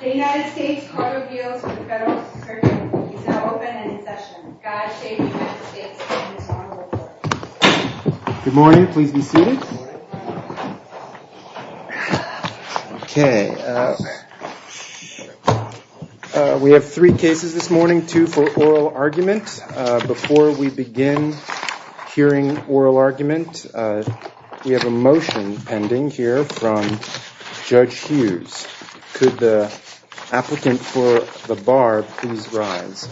The United States Cargo Fields with Federal Circuit is now open and in session. Good morning. Please be seated. Okay. We have three cases this morning, two for oral argument. Before we begin hearing oral argument, we have a motion pending here from Judge Hughes. Could the applicant for the bar please rise?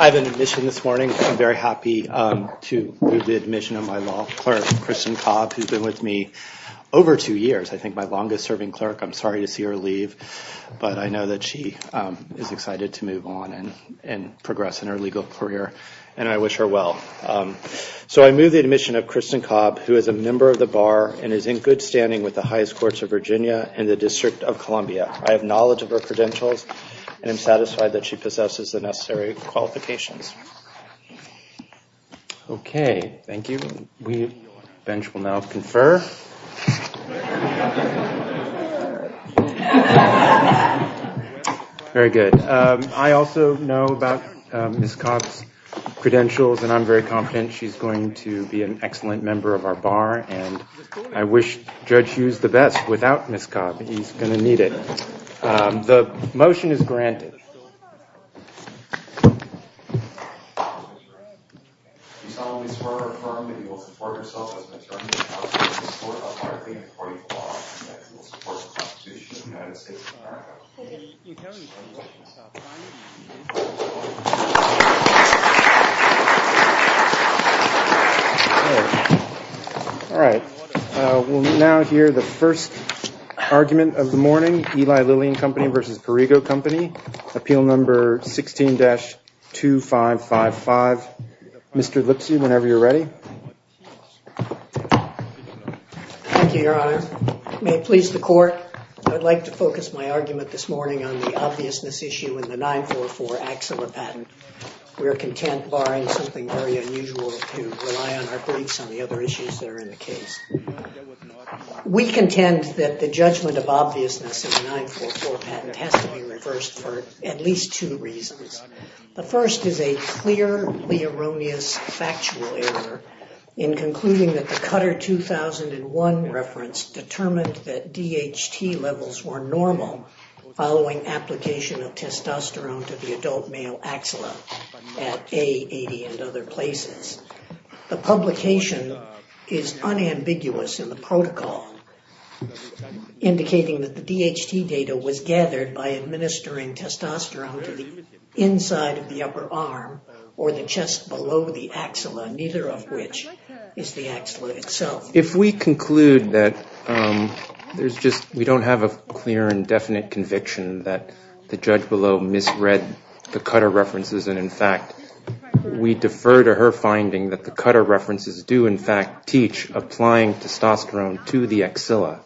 I have an admission this morning. I'm very happy to move the admission of my law clerk, Kristen Cobb, who's been with me over two years. I think my longest serving clerk. I'm sorry to see her leave, but I know that she is excited to move on and progress in her legal career, and I wish her well. So I move the admission of Kristen Cobb, who is a member of the bar and is in good standing with the highest courts of Virginia and the District of Columbia. I have knowledge of her credentials and I'm satisfied that she possesses the necessary qualifications. Okay, thank you. We will now confer. Very good. I also know about Ms. Cobb's credentials, and I'm very confident she's going to be an excellent member of our bar, and I wish Judge Hughes the best. Without Ms. Cobb, he's going to need it. The motion is granted. All right. We'll now hear the first argument of the morning. Eli Lillian Company versus Corrigo Company. Appeal number 16-2554. Mr. Lipsy, whenever you're ready. Thank you, Your Honor. May it please the court, I'd like to focus my argument this morning on the obviousness issue in the 944 Axilla patent. We are content, barring something very unusual, to rely on our briefs on the other issues that are in the case. We contend that the judgment of obviousness in the 944 patent has to be reversed for at least two reasons. The first is a clearly erroneous factual error in concluding that the Cutter 2001 reference determined that DHT levels were normal following application of testosterone to the adult male Axilla at A80 and other places. The publication is unambiguous in the protocol, indicating that the DHT data was gathered by administering testosterone to the inside of the upper arm or the chest below the Axilla, neither of which is the Axilla itself. If we conclude that we don't have a clear and definite conviction that the judge below misread the Cutter references and in fact we defer to her finding that the Cutter references do in fact teach applying testosterone to the Axilla,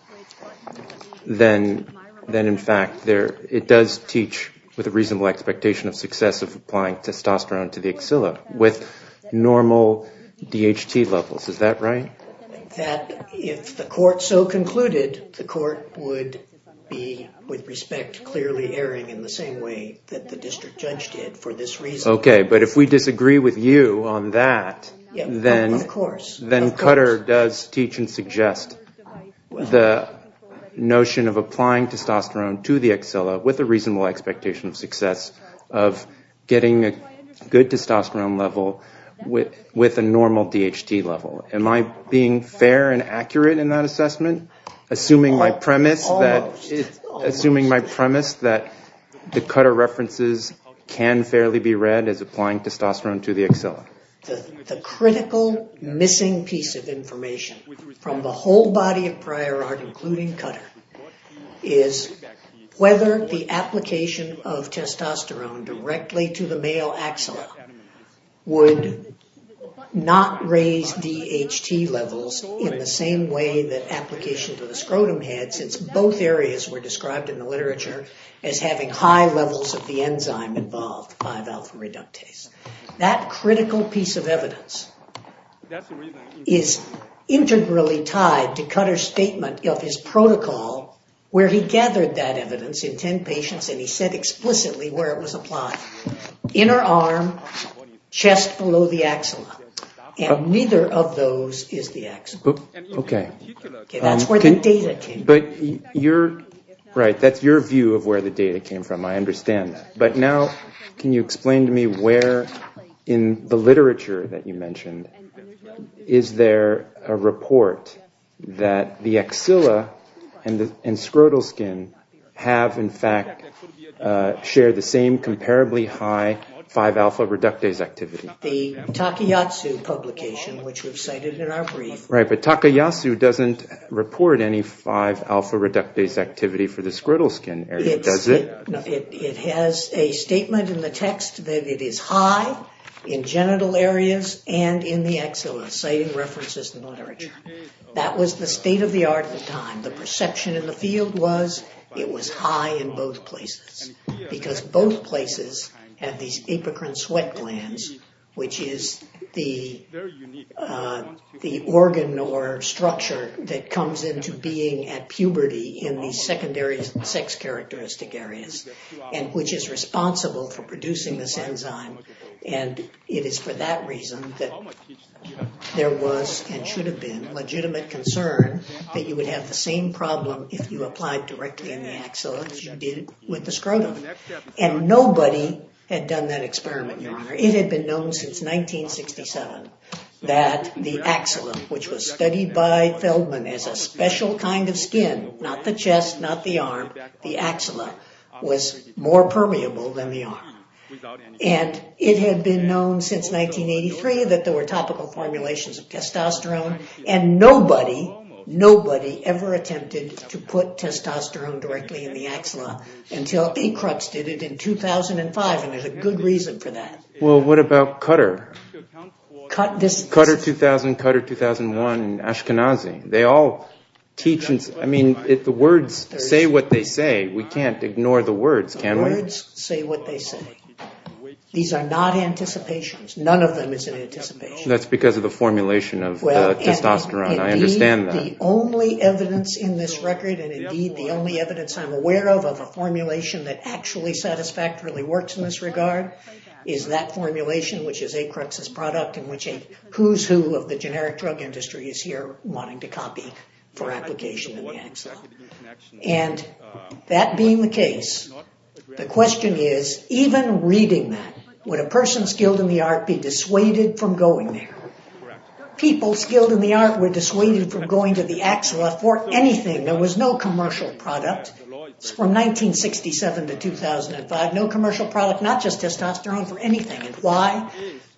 then in fact it does teach with a reasonable expectation of success of applying testosterone to the Axilla with normal DHT levels. Is that right? If the court so concluded, the court would be, with respect, clearly erring in the same way that the district judge did for this reason. Okay, but if we disagree with you on that, then Cutter does teach and suggest the notion of applying testosterone to the Axilla with a reasonable expectation of success of getting a good testosterone level with a normal DHT level. Am I being fair and accurate in that assessment, assuming my premise that the Cutter references can fairly be read as applying testosterone to the Axilla? That critical piece of evidence is integrally tied to Cutter's statement of his protocol where he gathered that evidence in 10 patients and he said explicitly where it was applied, inner arm, chest below the Axilla. And neither of those is the Axilla. Okay. That's where the data came from. Right, that's your view of where the data came from, I understand that. But now can you explain to me where in the literature that you mentioned is there a report that the Axilla and scrotal skin have in fact shared the same comparably high 5-alpha reductase activity? The Takayasu publication, which we've cited in our brief. Right, but Takayasu doesn't report any 5-alpha reductase activity for the scrotal skin area, does it? It has a statement in the text that it is high in genital areas and in the Axilla, citing references in the literature. That was the state of the art at the time. The perception in the field was it was high in both places because both places have these apocrine sweat glands, which is the organ or structure that comes into being at puberty in the secondary sex characteristic areas, and which is responsible for producing this enzyme. And it is for that reason that there was and should have been legitimate concern that you would have the same problem if you applied directly in the Axilla as you did with the scrotal. And nobody had done that experiment, Your Honor. It had been known since 1967 that the Axilla, which was studied by Feldman as a special kind of skin, not the chest, not the arm, the Axilla, was more permeable than the arm. And it had been known since 1983 that there were topical formulations of testosterone, and nobody, nobody ever attempted to put testosterone directly in the Axilla until E. Crux did it in 2005, and there's a good reason for that. Well, what about Cutter? Cutter 2000, Cutter 2001, Ashkenazi. They all teach, I mean, the words say what they say. These are not anticipations. None of them is an anticipation. That's because of the formulation of testosterone. I understand that. The only evidence in this record, and indeed the only evidence I'm aware of, of a formulation that actually satisfactorily works in this regard, is that formulation, which is E. Crux's product, and which a who's who of the generic drug industry is here wanting to copy for application in the Axilla. And that being the case, the question is, even reading that, would a person skilled in the art be dissuaded from going there? People skilled in the art were dissuaded from going to the Axilla for anything. There was no commercial product from 1967 to 2005, no commercial product, not just testosterone, for anything. And why?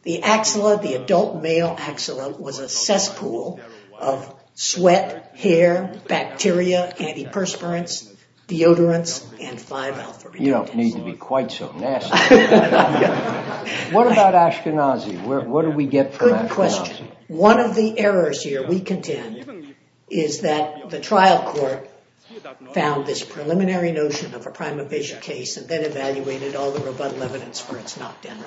The Axilla, the adult male Axilla, was a cesspool of sweat, hair, bacteria, antiperspirants, deodorants, and 5-alpha-betaine. You don't need to be quite so nasty. What about Ashkenazi? What do we get from Ashkenazi? Good question. One of the errors here, we contend, is that the trial court found this preliminary notion of a prima facie case and then evaluated all the rebuttal evidence for its knockdown.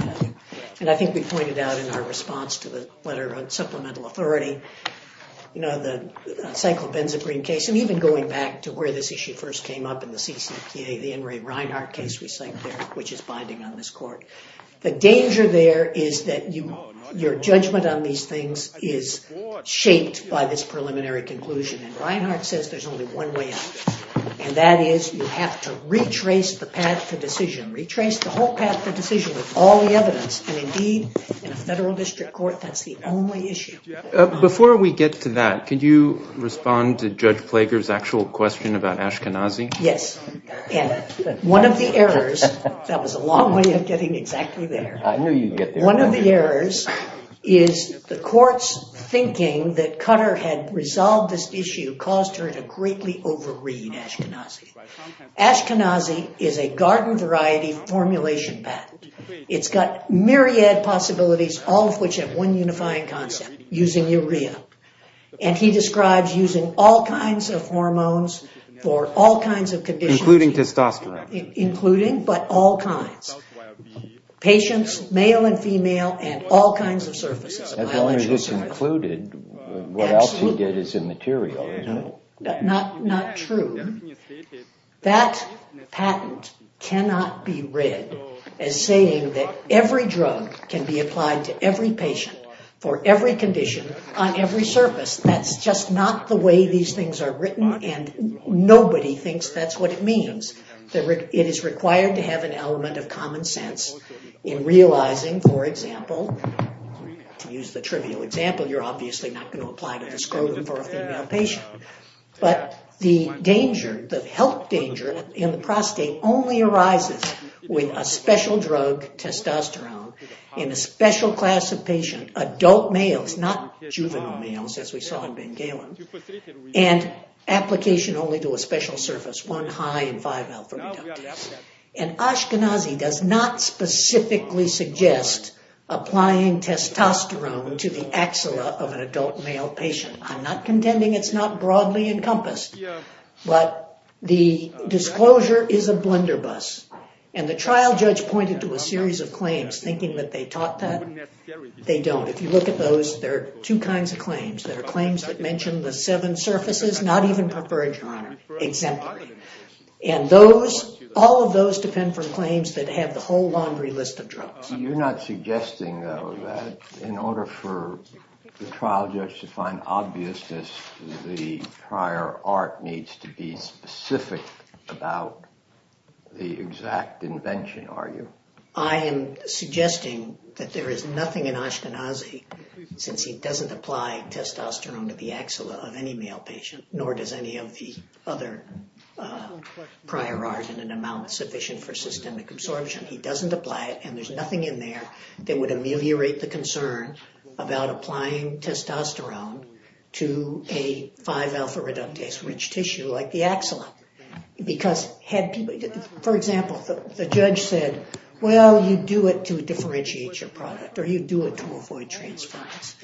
And I think we pointed out in our response to the letter on supplemental authority, you know, the cyclopenzaprine case, and even going back to where this issue first came up in the CCPA, the Henry Reinhart case we cite there, which is binding on this court. The danger there is that your judgment on these things is shaped by this preliminary conclusion. And Reinhart says there's only one way out, and that is you have to retrace the path to decision, retrace the whole path to decision with all the evidence. And indeed, in a federal district court, that's the only issue. Before we get to that, could you respond to Judge Plager's actual question about Ashkenazi? Yes. One of the errors, that was a long way of getting exactly there. I knew you'd get there. One of the errors is the court's thinking that Cutter had resolved this issue caused her to greatly overread Ashkenazi. Ashkenazi is a garden variety formulation patent. It's got myriad possibilities, all of which have one unifying concept, using urea. And he describes using all kinds of hormones for all kinds of conditions. Including testosterone. Including, but all kinds. Patients, male and female, and all kinds of surfaces. As long as it's included, what else you get is immaterial. Not true. That patent cannot be read as saying that every drug can be applied to every patient for every condition on every surface. That's just not the way these things are written. And nobody thinks that's what it means. It is required to have an element of common sense in realizing, for example, to use the trivial example, you're obviously not going to apply testosterone for a female patient. But the danger, the health danger, in the prostate only arises with a special drug, testosterone, in a special class of patient. Adult males, not juvenile males, as we saw in Ben Galen. And application only to a special surface. One high in 5 alpha reductase. And Ashkenazi does not specifically suggest applying testosterone to the axilla of an adult male patient. I'm not contending it's not broadly encompassed. But the disclosure is a blender bus. And the trial judge pointed to a series of claims, thinking that they taught that. They don't. If you look at those, there are two kinds of claims. There are claims that mention the seven surfaces, not even preferential honor. Exemplary. And those, all of those depend from claims that have the whole laundry list of drugs. You're not suggesting, though, that in order for the trial judge to find obviousness, the prior art needs to be specific about the exact invention, are you? I am suggesting that there is nothing in Ashkenazi, since he doesn't apply testosterone to the axilla of any male patient. Nor does any of the other prior art in an amount sufficient for systemic absorption. He doesn't apply it, and there's nothing in there that would ameliorate the concern about applying testosterone to a 5 alpha reductase-rich tissue like the axilla. Because, for example, the judge said, well, you do it to differentiate your product, or you do it to avoid transference.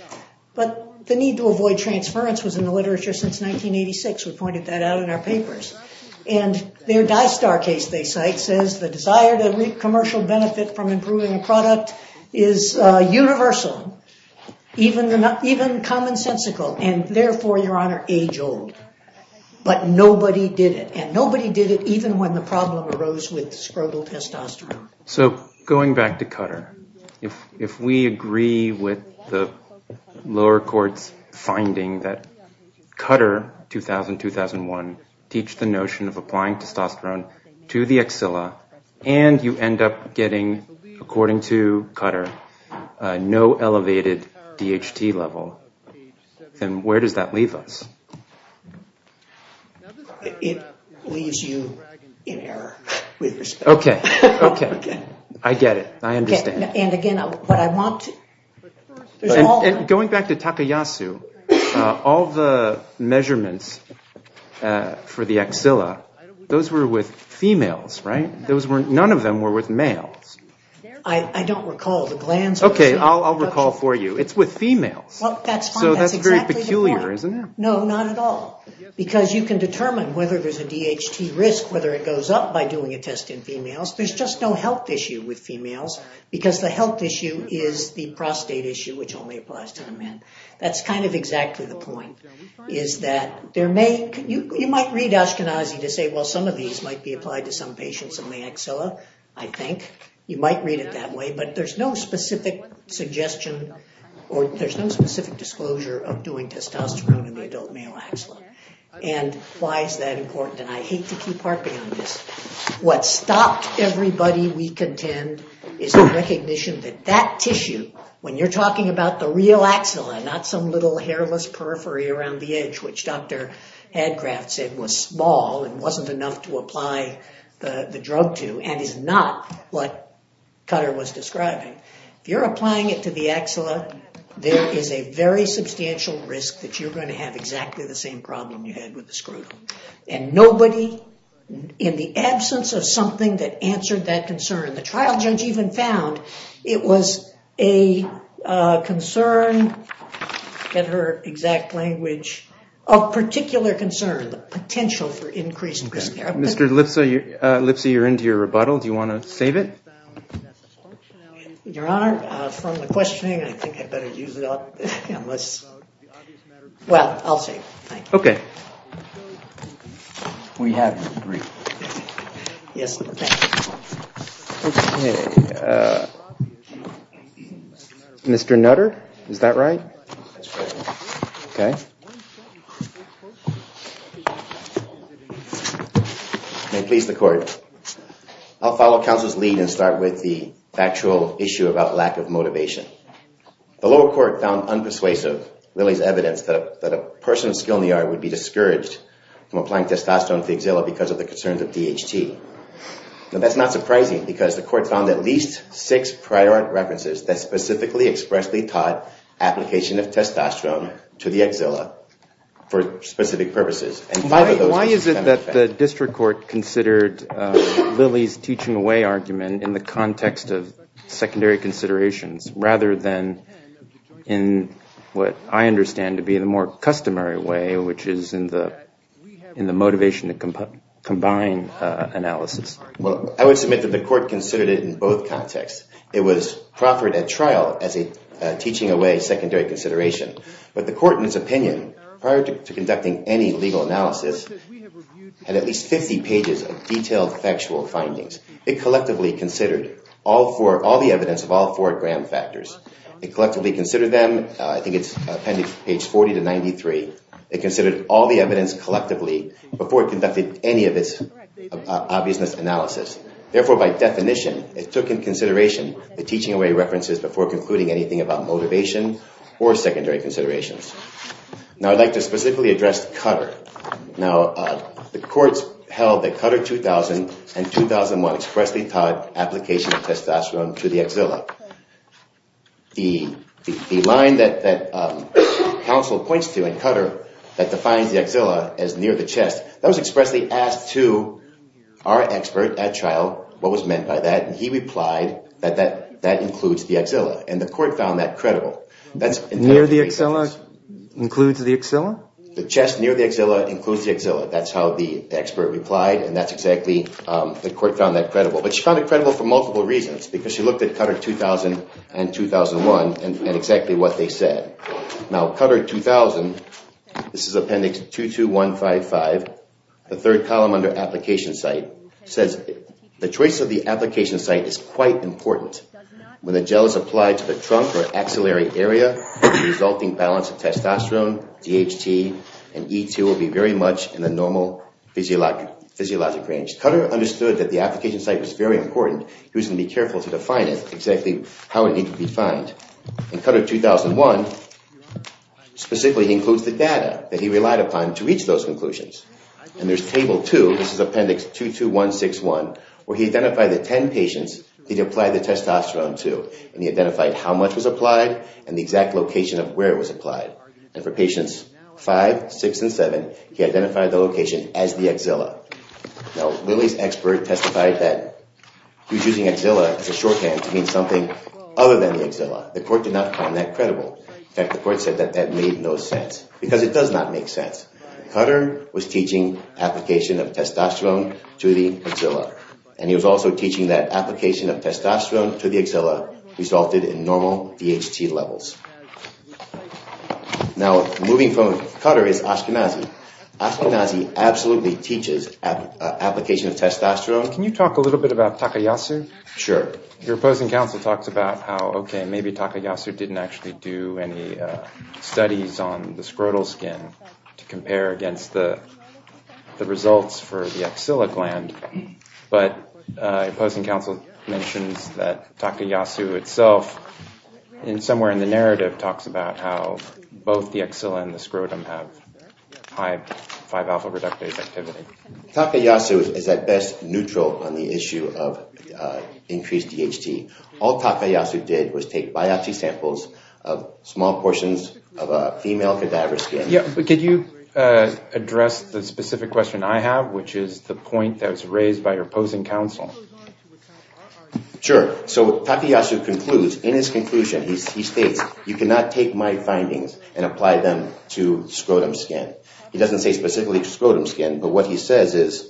But the need to avoid transference was in the literature since 1986. We pointed that out in our papers. And their Dystar case, they cite, says the desire to reap commercial benefit from improving a product is universal, even commonsensical. And therefore, Your Honor, age old. But nobody did it. And nobody did it even when the problem arose with scrotal testosterone. So going back to Cutter, if we agree with the lower court's finding that Cutter, 2000-2001, teach the notion of applying testosterone to the axilla, and you end up getting, according to Cutter, no elevated DHT level, then where does that leave us? It leaves you in error, with respect. Okay. Okay. I get it. I understand. And again, what I want to... Going back to Takayasu, all the measurements for the axilla, those were with females, right? None of them were with males. I don't recall. The glands... Okay, I'll recall for you. It's with females. Well, that's fine. That's exactly the problem. So that's very peculiar, isn't it? No, not at all. Because you can determine whether there's a DHT risk, whether it goes up by doing a test in females. There's just no health issue with females, because the health issue is the prostate issue, which only applies to the men. That's kind of exactly the point, is that there may... You might read Ashkenazi to say, well, some of these might be applied to some patients in the axilla, I think. You might read it that way, but there's no specific suggestion or there's no specific disclosure of doing testosterone in the adult male axilla. And why is that important? And I hate to keep harping on this. What stopped everybody we contend is the recognition that that tissue, when you're talking about the real axilla, not some little hairless periphery around the edge, which Dr. Hadgraf said was small and wasn't enough to apply the drug to, and is not what Cutter was describing. If you're applying it to the axilla, there is a very substantial risk that you're going to have exactly the same problem you had with the scrotum. And nobody, in the absence of something that answered that concern, the trial judge even found it was a concern, get her exact language, a particular concern, the potential for increased risk. Mr. Lipsey, you're into your rebuttal. Do you want to save it? Your Honor, from the questioning, I think I'd better use it up. Well, I'll save it. Thank you. Okay. We have a brief. Yes, thank you. Okay. Mr. Nutter, is that right? That's correct. Okay. May it please the court. I'll follow counsel's lead and start with the factual issue about lack of motivation. The lower court found unpersuasive Lilly's evidence that a person of skill in the art would be discouraged from applying testosterone to the axilla because of the concerns of DHT. Now, that's not surprising because the court found at least six prior references that specifically expressly taught application of testosterone to the axilla for specific purposes. Why is it that the district court considered Lilly's teaching away argument in the context of secondary considerations rather than in what I understand to be the more customary way, which is in the motivation to combine analysis? Well, I would submit that the court considered it in both contexts. It was proffered at trial as a teaching away secondary consideration. But the court, in its opinion, prior to conducting any legal analysis, had at least 50 pages of detailed factual findings. It collectively considered all the evidence of all four Graham factors. It collectively considered them. I think it's appended to page 40 to 93. It considered all the evidence collectively before it conducted any of its obviousness analysis. Therefore, by definition, it took in consideration the teaching away references before concluding anything about motivation or secondary considerations. Now, I'd like to specifically address Cutter. Now, the courts held that Cutter 2000 and 2001 expressly taught application of testosterone to the axilla. The line that counsel points to in Cutter that defines the axilla as near the chest, that was expressly asked to our expert at trial what was meant by that. And he replied that that includes the axilla. And the court found that credible. Near the axilla includes the axilla? The chest near the axilla includes the axilla. That's how the expert replied. And that's exactly, the court found that credible. But she found it credible for multiple reasons because she looked at Cutter 2000 and 2001 and exactly what they said. Now, Cutter 2000, this is appendix 22155, the third column under application site, says the choice of the application site is quite important. When the gel is applied to the trunk or axillary area, the resulting balance of testosterone, DHT, and E2 will be very much in the normal physiologic range. Cutter understood that the application site was very important. He was going to be careful to define it, exactly how it needed to be defined. And Cutter 2001 specifically includes the data that he relied upon to reach those conclusions. And there's table 2, this is appendix 22161, where he identified the 10 patients that he applied the testosterone to. And he identified how much was applied and the exact location of where it was applied. And for patients 5, 6, and 7, he identified the location as the axilla. Now, Lilly's expert testified that he was using axilla as a shorthand to mean something other than the axilla. The court did not find that credible. In fact, the court said that that made no sense because it does not make sense. Cutter was teaching application of testosterone to the axilla. And he was also teaching that application of testosterone to the axilla resulted in normal DHT levels. Now, moving from Cutter is Ashkenazi. Ashkenazi absolutely teaches application of testosterone. Can you talk a little bit about Takayasu? Sure. Your opposing counsel talks about how, okay, maybe Takayasu didn't actually do any studies on the scrotal skin to compare against the results for the axilla gland. But opposing counsel mentions that Takayasu itself somewhere in the narrative talks about how both the axilla and the scrotum have high 5-alpha reductase activity. Takayasu is at best neutral on the issue of increased DHT. All Takayasu did was take biopsy samples of small portions of a female cadaver skin. Could you address the specific question I have, which is the point that was raised by your opposing counsel? Sure. So Takayasu concludes. In his conclusion, he states, you cannot take my findings and apply them to scrotum skin. He doesn't say specifically to scrotum skin, but what he says is,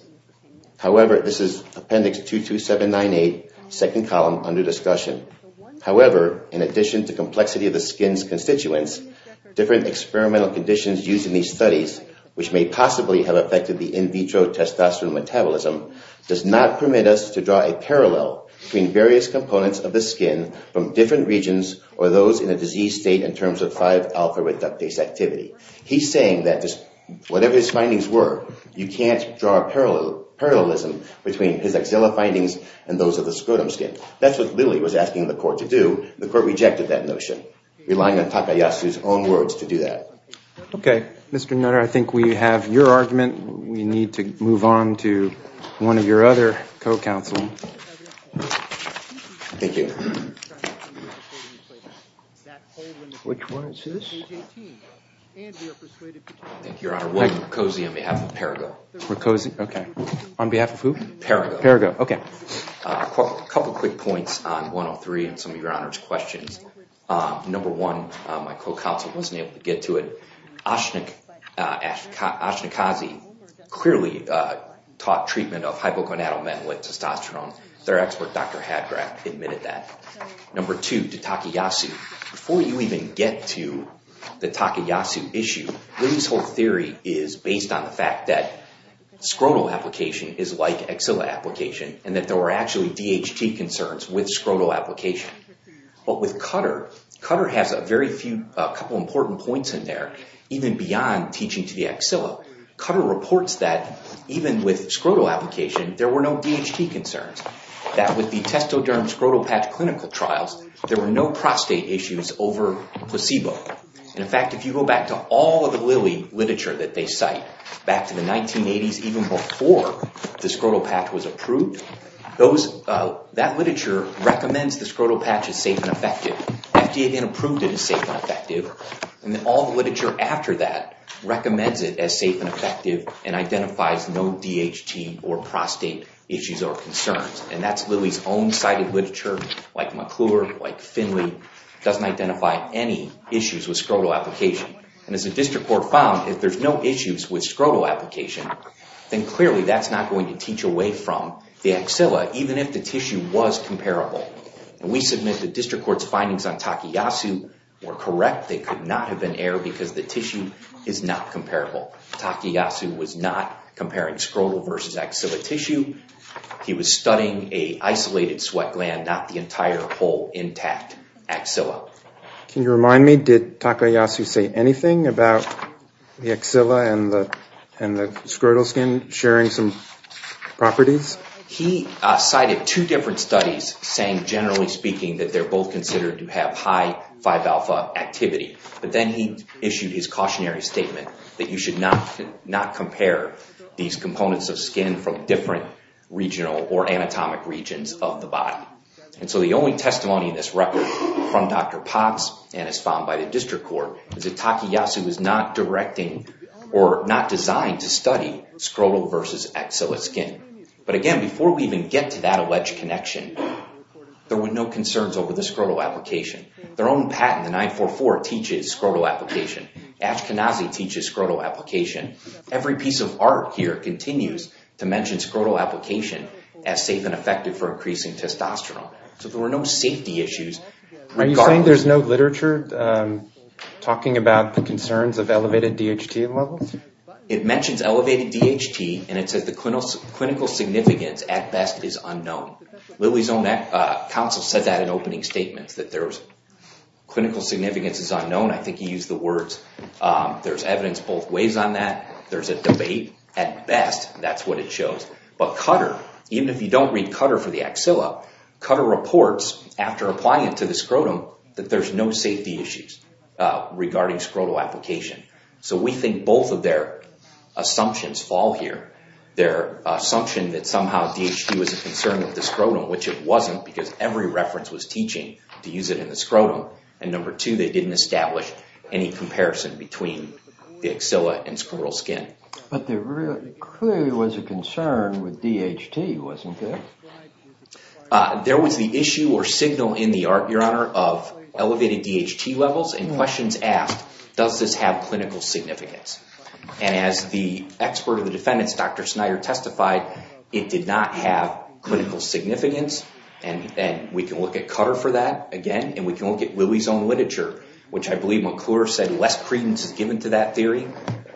however, this is appendix 22798, second column, under discussion. However, in addition to complexity of the skin's constituents, different experimental conditions used in these studies, which may possibly have affected the in vitro testosterone metabolism, does not permit us to draw a parallel between various components of the skin from different regions or those in a diseased state in terms of 5-alpha reductase activity. He's saying that whatever his findings were, you can't draw a parallelism between his axilla findings and those of the scrotum skin. That's what Lilly was asking the court to do. The court rejected that notion, relying on Takayasu's own words to do that. OK. Mr. Nutter, I think we have your argument. We need to move on to one of your other co-counsel. Thank you. Which one is this? Thank you, Your Honor. William Mercosi on behalf of Perigo. Mercosi, OK. On behalf of who? Perigo. Perigo, OK. A couple of quick points on 103 and some of Your Honor's questions. Number one, my co-counsel wasn't able to get to it. Ashnikazi clearly taught treatment of hypogonadal men with testosterone. Their expert, Dr. Hadgraf, admitted that. Number two, to Takayasu. Before you even get to the Takayasu issue, Lilly's whole theory is based on the fact that scrotal application is like axilla application and that there were actually DHT concerns with scrotal application. But with Cutter, Cutter has a couple of important points in there, even beyond teaching to the axilla. Cutter reports that even with scrotal application, there were no DHT concerns. That with the testoderm scrotal patch clinical trials, there were no prostate issues over placebo. In fact, if you go back to all of the Lilly literature that they cite, back to the 1980s, even before the scrotal patch was approved, that literature recommends the scrotal patch is safe and effective. FDA then approved it as safe and effective. And all the literature after that recommends it as safe and effective and identifies no DHT or prostate issues or concerns. And that's Lilly's own cited literature, like McClure, like Finley, doesn't identify any issues with scrotal application. And as the district court found, if there's no issues with scrotal application, then clearly that's not going to teach away from the axilla, even if the tissue was comparable. And we submit the district court's findings on Takayasu were correct. They could not have been error because the tissue is not comparable. Takayasu was not comparing scrotal versus axilla tissue. He was studying a isolated sweat gland, not the entire whole intact axilla. Can you remind me, did Takayasu say anything about the axilla and the scrotal skin sharing some properties? He cited two different studies saying, generally speaking, that they're both considered to have high 5-alpha activity. But then he issued his cautionary statement that you should not compare these components of skin from different regional or anatomic regions of the body. And so the only testimony in this record from Dr. Potts and as found by the district court, is that Takayasu was not directing or not designed to study scrotal versus axilla skin. But again, before we even get to that alleged connection, there were no concerns over the scrotal application. Their own patent, the 944, teaches scrotal application. Ashkenazi teaches scrotal application. Every piece of art here continues to mention scrotal application as safe and effective for increasing testosterone. So there were no safety issues. Are you saying there's no literature talking about the concerns of elevated DHT levels? It mentions elevated DHT and it says the clinical significance at best is unknown. Lilly's own counsel said that in opening statements, that clinical significance is unknown. I think he used the words, there's evidence both ways on that. There's a debate. At best, that's what it shows. But Cutter, even if you don't read Cutter for the axilla, Cutter reports after applying it to the scrotum, that there's no safety issues regarding scrotal application. So we think both of their assumptions fall here. Their assumption that somehow DHT was a concern of the scrotum, which it wasn't, because every reference was teaching to use it in the scrotum. And number two, they didn't establish any comparison between the axilla and scrotal skin. But there clearly was a concern with DHT, wasn't there? There was the issue or signal in the art, Your Honor, of elevated DHT levels, and questions asked, does this have clinical significance? And as the expert of the defendants, Dr. Snyder, testified, it did not have clinical significance. And we can look at Cutter for that, again, and we can look at Lilly's own literature, which I believe McClure said less credence is given to that theory.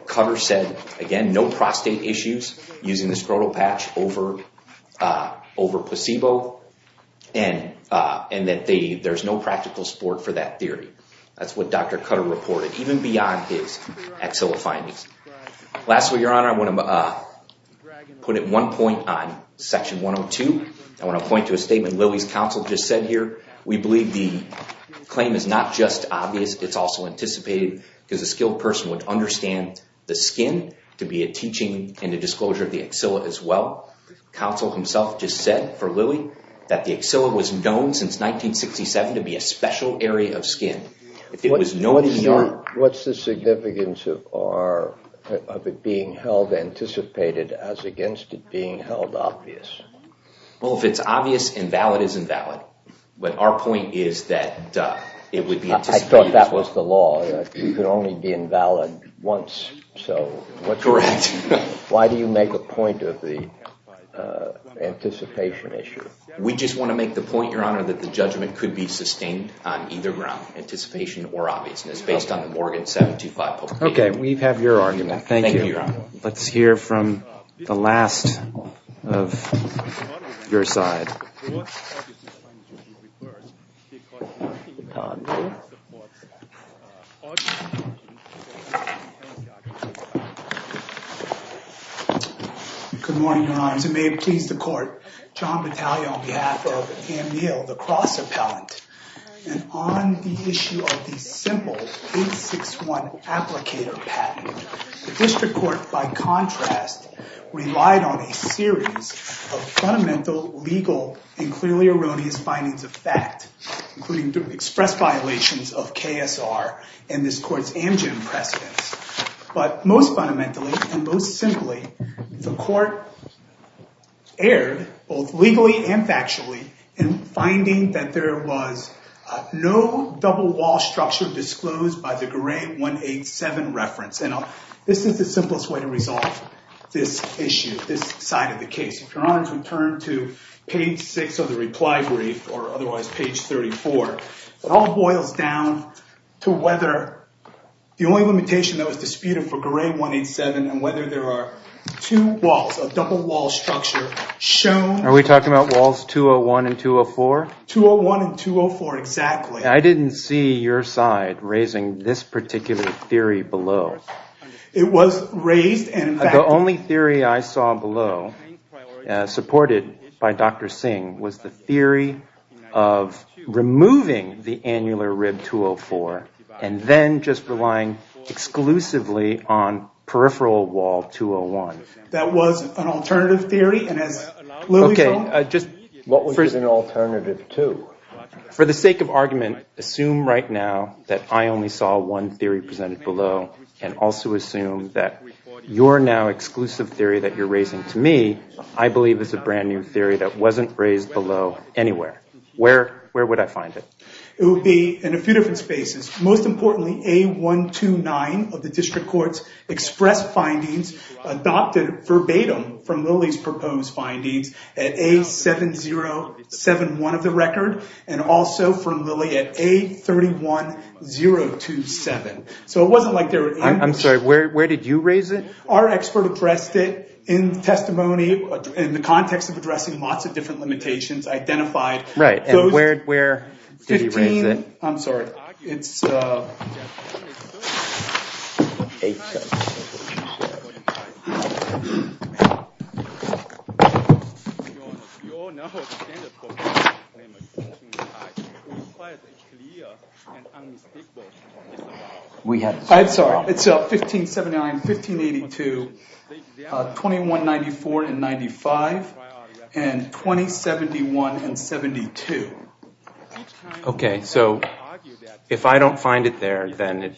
Cutter said, again, no prostate issues using the scrotal patch over placebo, and that there's no practical support for that theory. That's what Dr. Cutter reported, even beyond his axilla findings. Lastly, Your Honor, I want to put in one point on Section 102. I want to point to a statement Lilly's counsel just said here. We believe the claim is not just obvious, it's also anticipated, because a skilled person would understand the skin to be a teaching and a disclosure of the axilla as well. Counsel himself just said, for Lilly, that the axilla was known since 1967 to be a special area of skin. What's the significance of it being held anticipated as against it being held obvious? Well, if it's obvious, invalid is invalid. But our point is that it would be anticipated. I thought that was the law, that it could only be invalid once. Correct. Why do you make a point of the anticipation issue? We just want to make the point, Your Honor, that the judgment could be sustained on either ground, anticipation or obviousness, based on the Morgan 725 publication. Okay, we have your argument. Thank you. Thank you, Your Honor. Let's hear from the last of your side. Good morning, Your Honors. It may please the Court, John Battaglia on behalf of Anne Neal, the cross appellant. And on the issue of the simple 861 applicator patent, the District Court, by contrast, relied on a series of fundamental legal and clearly erroneous findings of fact, including express violations of KSR and this Court's Amgen precedents. But most fundamentally and most simply, the Court erred, both legally and factually, in finding that there was no double wall structure disclosed by the Garay 187 reference. And this is the simplest way to resolve this issue, this side of the case. If Your Honors would turn to page 6 of the reply brief, or otherwise page 34, it all boils down to whether the only limitation that was disputed for Garay 187 and whether there are two walls, a double wall structure shown. Are we talking about walls 201 and 204? 201 and 204, exactly. I didn't see your side raising this particular theory below. It was raised. The only theory I saw below, supported by Dr. Singh, was the theory of removing the annular rib 204 and then just relying exclusively on peripheral wall 201. That was an alternative theory. Okay. What was an alternative to? For the sake of argument, assume right now that I only saw one theory presented below and also assume that your now exclusive theory that you're raising to me, I believe is a brand new theory that wasn't raised below anywhere. Where would I find it? It would be in a few different spaces. Most importantly, A129 of the district court's express findings adopted verbatim from Lilly's proposed findings at A7071 of the record and also from Lilly at A31027. So it wasn't like there were any. I'm sorry. Where did you raise it? Our expert addressed it in testimony in the context of addressing lots of different limitations, identified those. Right, and where did he raise it? I'm sorry. It's 1579, 1582, 2194 and 95, and 2071 and 72. Okay, so if I don't find it there, then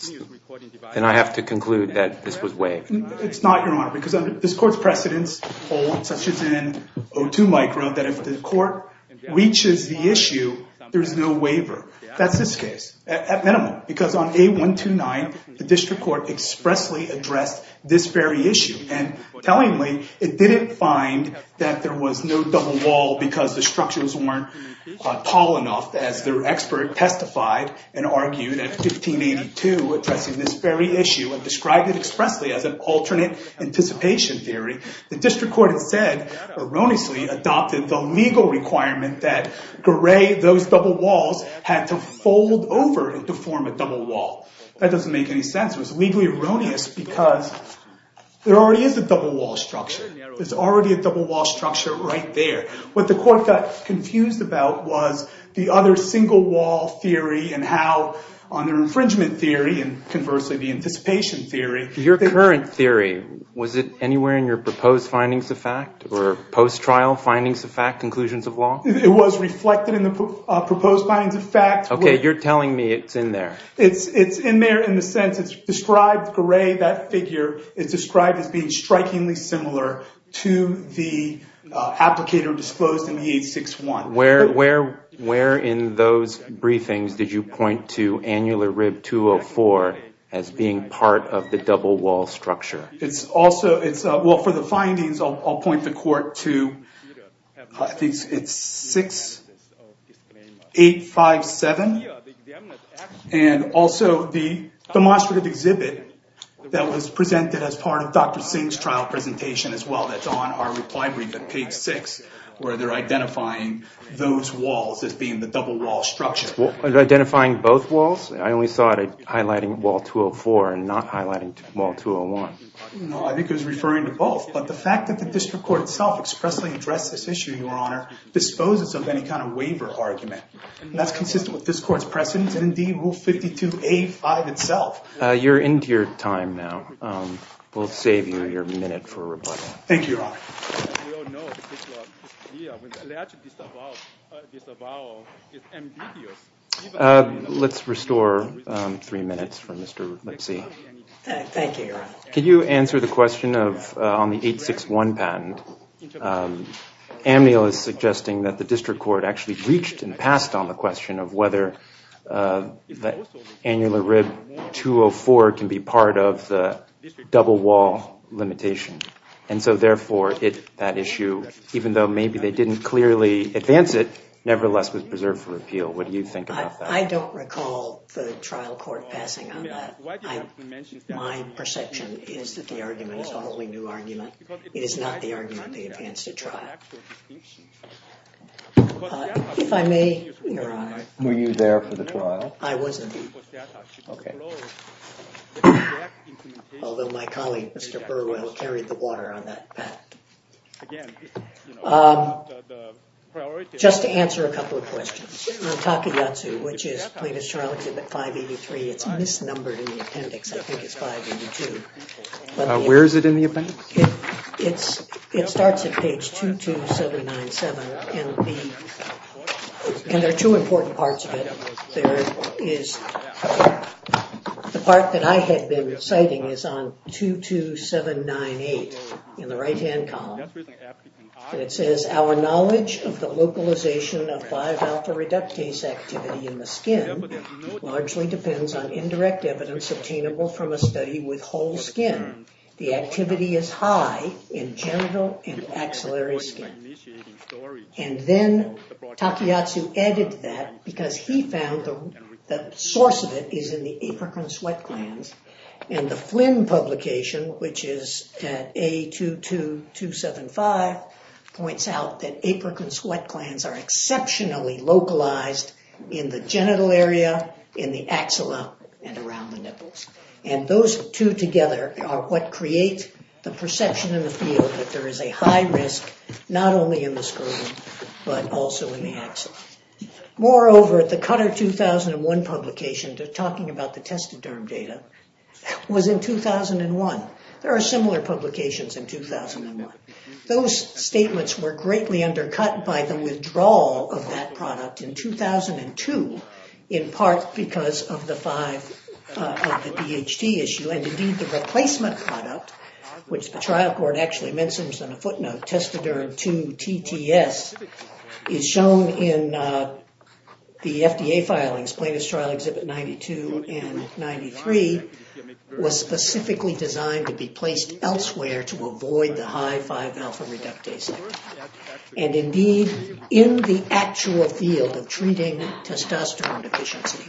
I have to conclude that this was waived. It's not, Your Honor, because this court's precedents hold, such as in O2 micro, that if the court reaches the issue, there is no waiver. That's this case, at minimum, because on A129, the district court expressly addressed this very issue, and tellingly, it didn't find that there was no double wall because the structures weren't tall enough, as their expert testified and argued at 1582, addressing this very issue, and described it expressly as an alternate anticipation theory. The district court instead erroneously adopted the legal requirement that those double walls had to fold over to form a double wall. That doesn't make any sense. It was legally erroneous because there already is a double wall structure. There's already a double wall structure right there. What the court got confused about was the other single wall theory and how on their infringement theory, and conversely, the anticipation theory. Your current theory, was it anywhere in your proposed findings of fact or post-trial findings of fact, conclusions of law? It was reflected in the proposed findings of fact. Okay, you're telling me it's in there. It's in there in the sense it's described. That figure is described as being strikingly similar to the applicator disclosed in the 861. Where in those briefings did you point to annular rib 204 as being part of the double wall structure? For the findings, I'll point the court to 6857, and also the demonstrative exhibit that was presented as part of Dr. Singh's trial presentation as well that's on our reply brief at page 6, where they're identifying those walls as being the double wall structure. Identifying both walls? I only saw it highlighting wall 204 and not highlighting wall 201. No, I think it was referring to both, but the fact that the district court itself expressly addressed this issue, Your Honor, disposes of any kind of waiver argument. That's consistent with this court's precedent and indeed Rule 52A5 itself. You're into your time now. We'll save you your minute for rebuttal. Thank you, Your Honor. Let's restore three minutes for Mr. Lipsy. Thank you, Your Honor. Could you answer the question on the 861 patent? Amnil is suggesting that the district court actually reached and passed on the question of whether the annular rib 204 can be part of the double wall limitation, and so therefore that issue, even though maybe they didn't clearly advance it, nevertheless was preserved for appeal. What do you think about that? I don't recall the trial court passing on that. My perception is that the argument is a wholly new argument. It is not the argument they advanced at trial. If I may, Your Honor. Were you there for the trial? I wasn't, although my colleague, Mr. Burwell, carried the water on that patent. Just to answer a couple of questions. On Takeyatsu, which is plaintiff's trial exhibit 583, it's misnumbered in the appendix. I think it's 582. Where is it in the appendix? It starts at page 22797, and there are two important parts of it. The part that I had been citing is on 22798 in the right-hand column, and it says, Our knowledge of the localization of 5-alpha reductase activity in the skin largely depends on indirect evidence obtainable from a study with whole skin. The activity is high in genital and axillary skin. And then Takeyatsu added that because he found the source of it is in the apricot sweat glands, and the Flynn publication, which is at A22275, points out that apricot sweat glands are exceptionally localized in the genital area, in the axilla, and around the nipples. And those two together are what create the perception in the field that there is a high risk, not only in the sclerosis, but also in the axilla. Moreover, the Cutter 2001 publication, talking about the testoderm data, was in 2001. There are similar publications in 2001. Those statements were greatly undercut by the withdrawal of that product in 2002, in part because of the 5, of the DHT issue. And indeed, the replacement product, which the trial court actually mentions on a footnote, testoderm 2-TTS, is shown in the FDA filings, Plaintiff's Trial Exhibit 92 and 93, was specifically designed to be placed elsewhere to avoid the high 5-alpha reductase. And indeed, in the actual field of treating testosterone deficiency,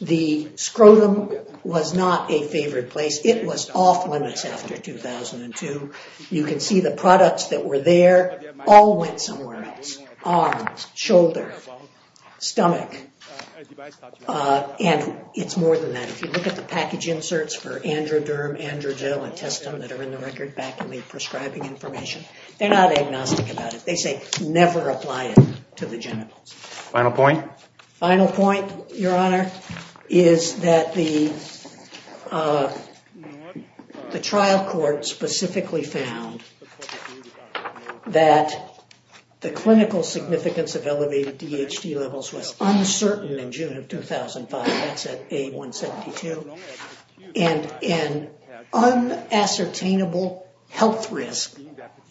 the scrotum was not a favored place. It was off limits after 2002. You can see the products that were there all went somewhere else. Arms, shoulder, stomach, and it's more than that. If you look at the package inserts for androderm, androgel, and testum that are in the record back in the prescribing information, they're not agnostic about it. They say never apply it to the genitals. Final point? Final point, Your Honor, is that the trial court specifically found that the clinical significance of elevated DHT levels was uncertain in June of 2005. That's at A-172. And an unassertainable health risk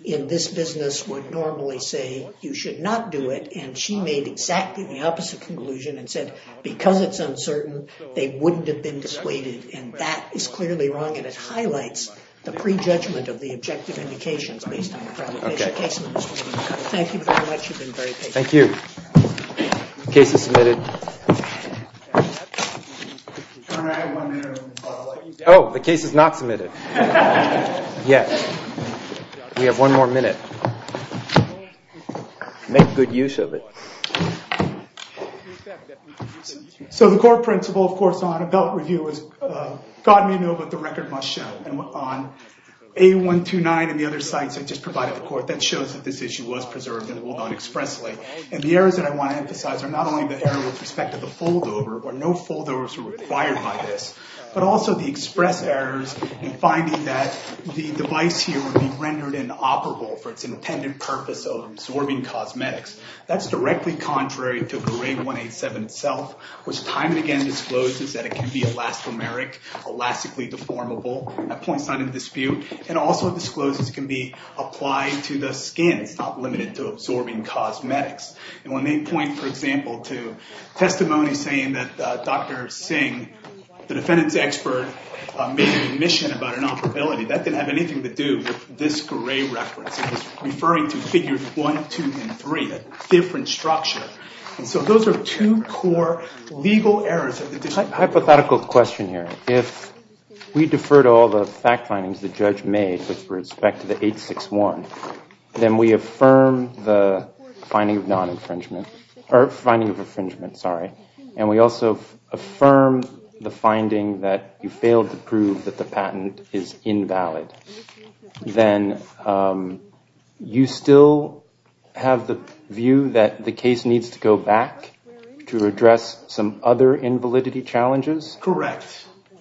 in this business would normally say you should not do it. And she made exactly the opposite conclusion and said, because it's uncertain, they wouldn't have been dissuaded. And that is clearly wrong, and it highlights the prejudgment of the objective indications based on the problem. Thank you very much. You've been very patient. Thank you. Case is submitted. Oh, the case is not submitted yet. We have one more minute. Make good use of it. So the core principle, of course, on a belt review is God may know, but the record must show. And on A-129 and the other sites I just provided the court, that shows that this issue was preserved and will not expressly. And the errors that I want to emphasize are not only the error with respect to the foldover, where no foldovers were required by this, but also the express errors in finding that the device here would be rendered inoperable for its intended purpose of absorbing cosmetics. That's directly contrary to GRADE 187 itself, which time and again discloses that it can be elastomeric, elastically deformable. That point's not in dispute. And also discloses it can be applied to the skin. It's not limited to absorbing cosmetics. And when they point, for example, to testimony saying that Dr. Singh, the defendant's expert, made an admission about inoperability, that didn't have anything to do with this GRADE reference. It was referring to figures one, two, and three, a different structure. And so those are two core legal errors. Hypothetical question here. If we defer to all the fact findings the judge made with respect to the 861, then we affirm the finding of non-infringement. Or finding of infringement, sorry. And we also affirm the finding that you failed to prove that the patent is invalid. Then you still have the view that the case needs to go back to address some other invalidity challenges? Correct.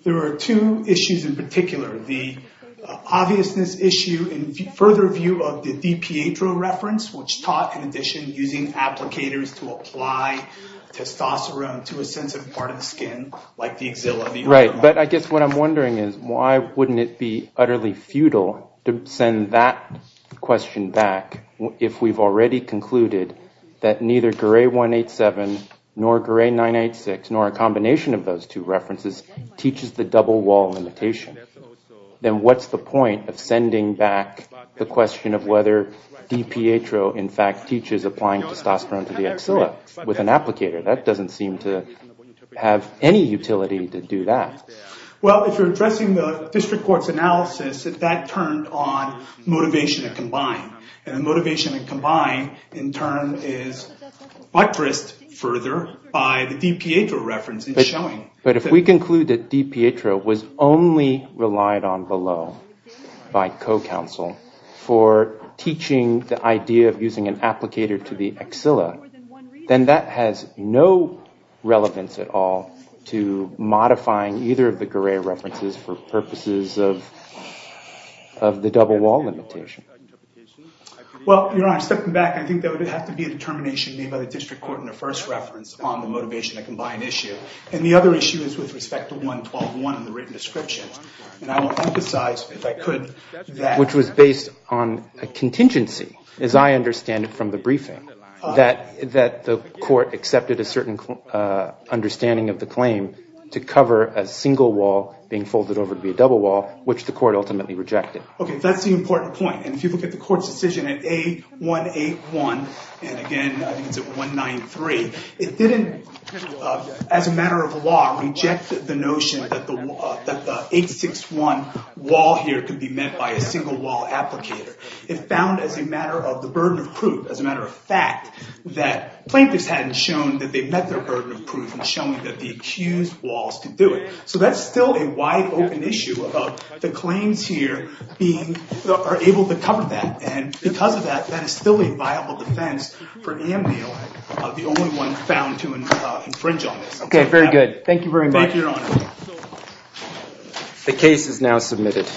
There are two issues in particular. The obviousness issue in further view of the DiPietro reference, which taught in addition using applicators to apply testosterone to a sensitive part of the skin, like the axilla. Right. But I guess what I'm wondering is why wouldn't it be utterly futile to send that question back if we've already concluded that neither GRADE 187 nor GRADE 986 nor a combination of those two references teaches the double wall limitation? Then what's the point of sending back the question of whether DiPietro in fact teaches applying testosterone to the axilla with an applicator? That doesn't seem to have any utility to do that. Well, if you're addressing the district court's analysis, that turned on motivation and combine. And the motivation and combine in turn is buttressed further by the DiPietro reference. But if we conclude that DiPietro was only relied on below by co-counsel for teaching the idea of using an applicator to the axilla, then that has no relevance at all to modifying either of the GRADE references for purposes of the double wall limitation. Well, you're right. Stepping back, I think there would have to be a determination made by the district court in the first reference on the motivation and combine issue. And the other issue is with respect to 112.1 in the written description. And I will emphasize, if I could, that. Which was based on a contingency, as I understand it from the briefing, that the court accepted a certain understanding of the claim to cover a single wall being folded over to be a double wall, which the court ultimately rejected. Okay, that's the important point. And if you look at the court's decision at A181 and, again, I think it's at 193, it didn't, as a matter of law, reject the notion that the 861 wall here could be met by a single wall applicator. It found, as a matter of the burden of proof, as a matter of fact, that plaintiffs hadn't shown that they met their burden of proof in showing that the accused walls could do it. So that's still a wide-open issue about the claims here being able to cover that. And because of that, that is still a viable defense for him being the only one found to infringe on this. Okay, very good. Thank you very much. Thank you, Your Honor. The case is now submitted.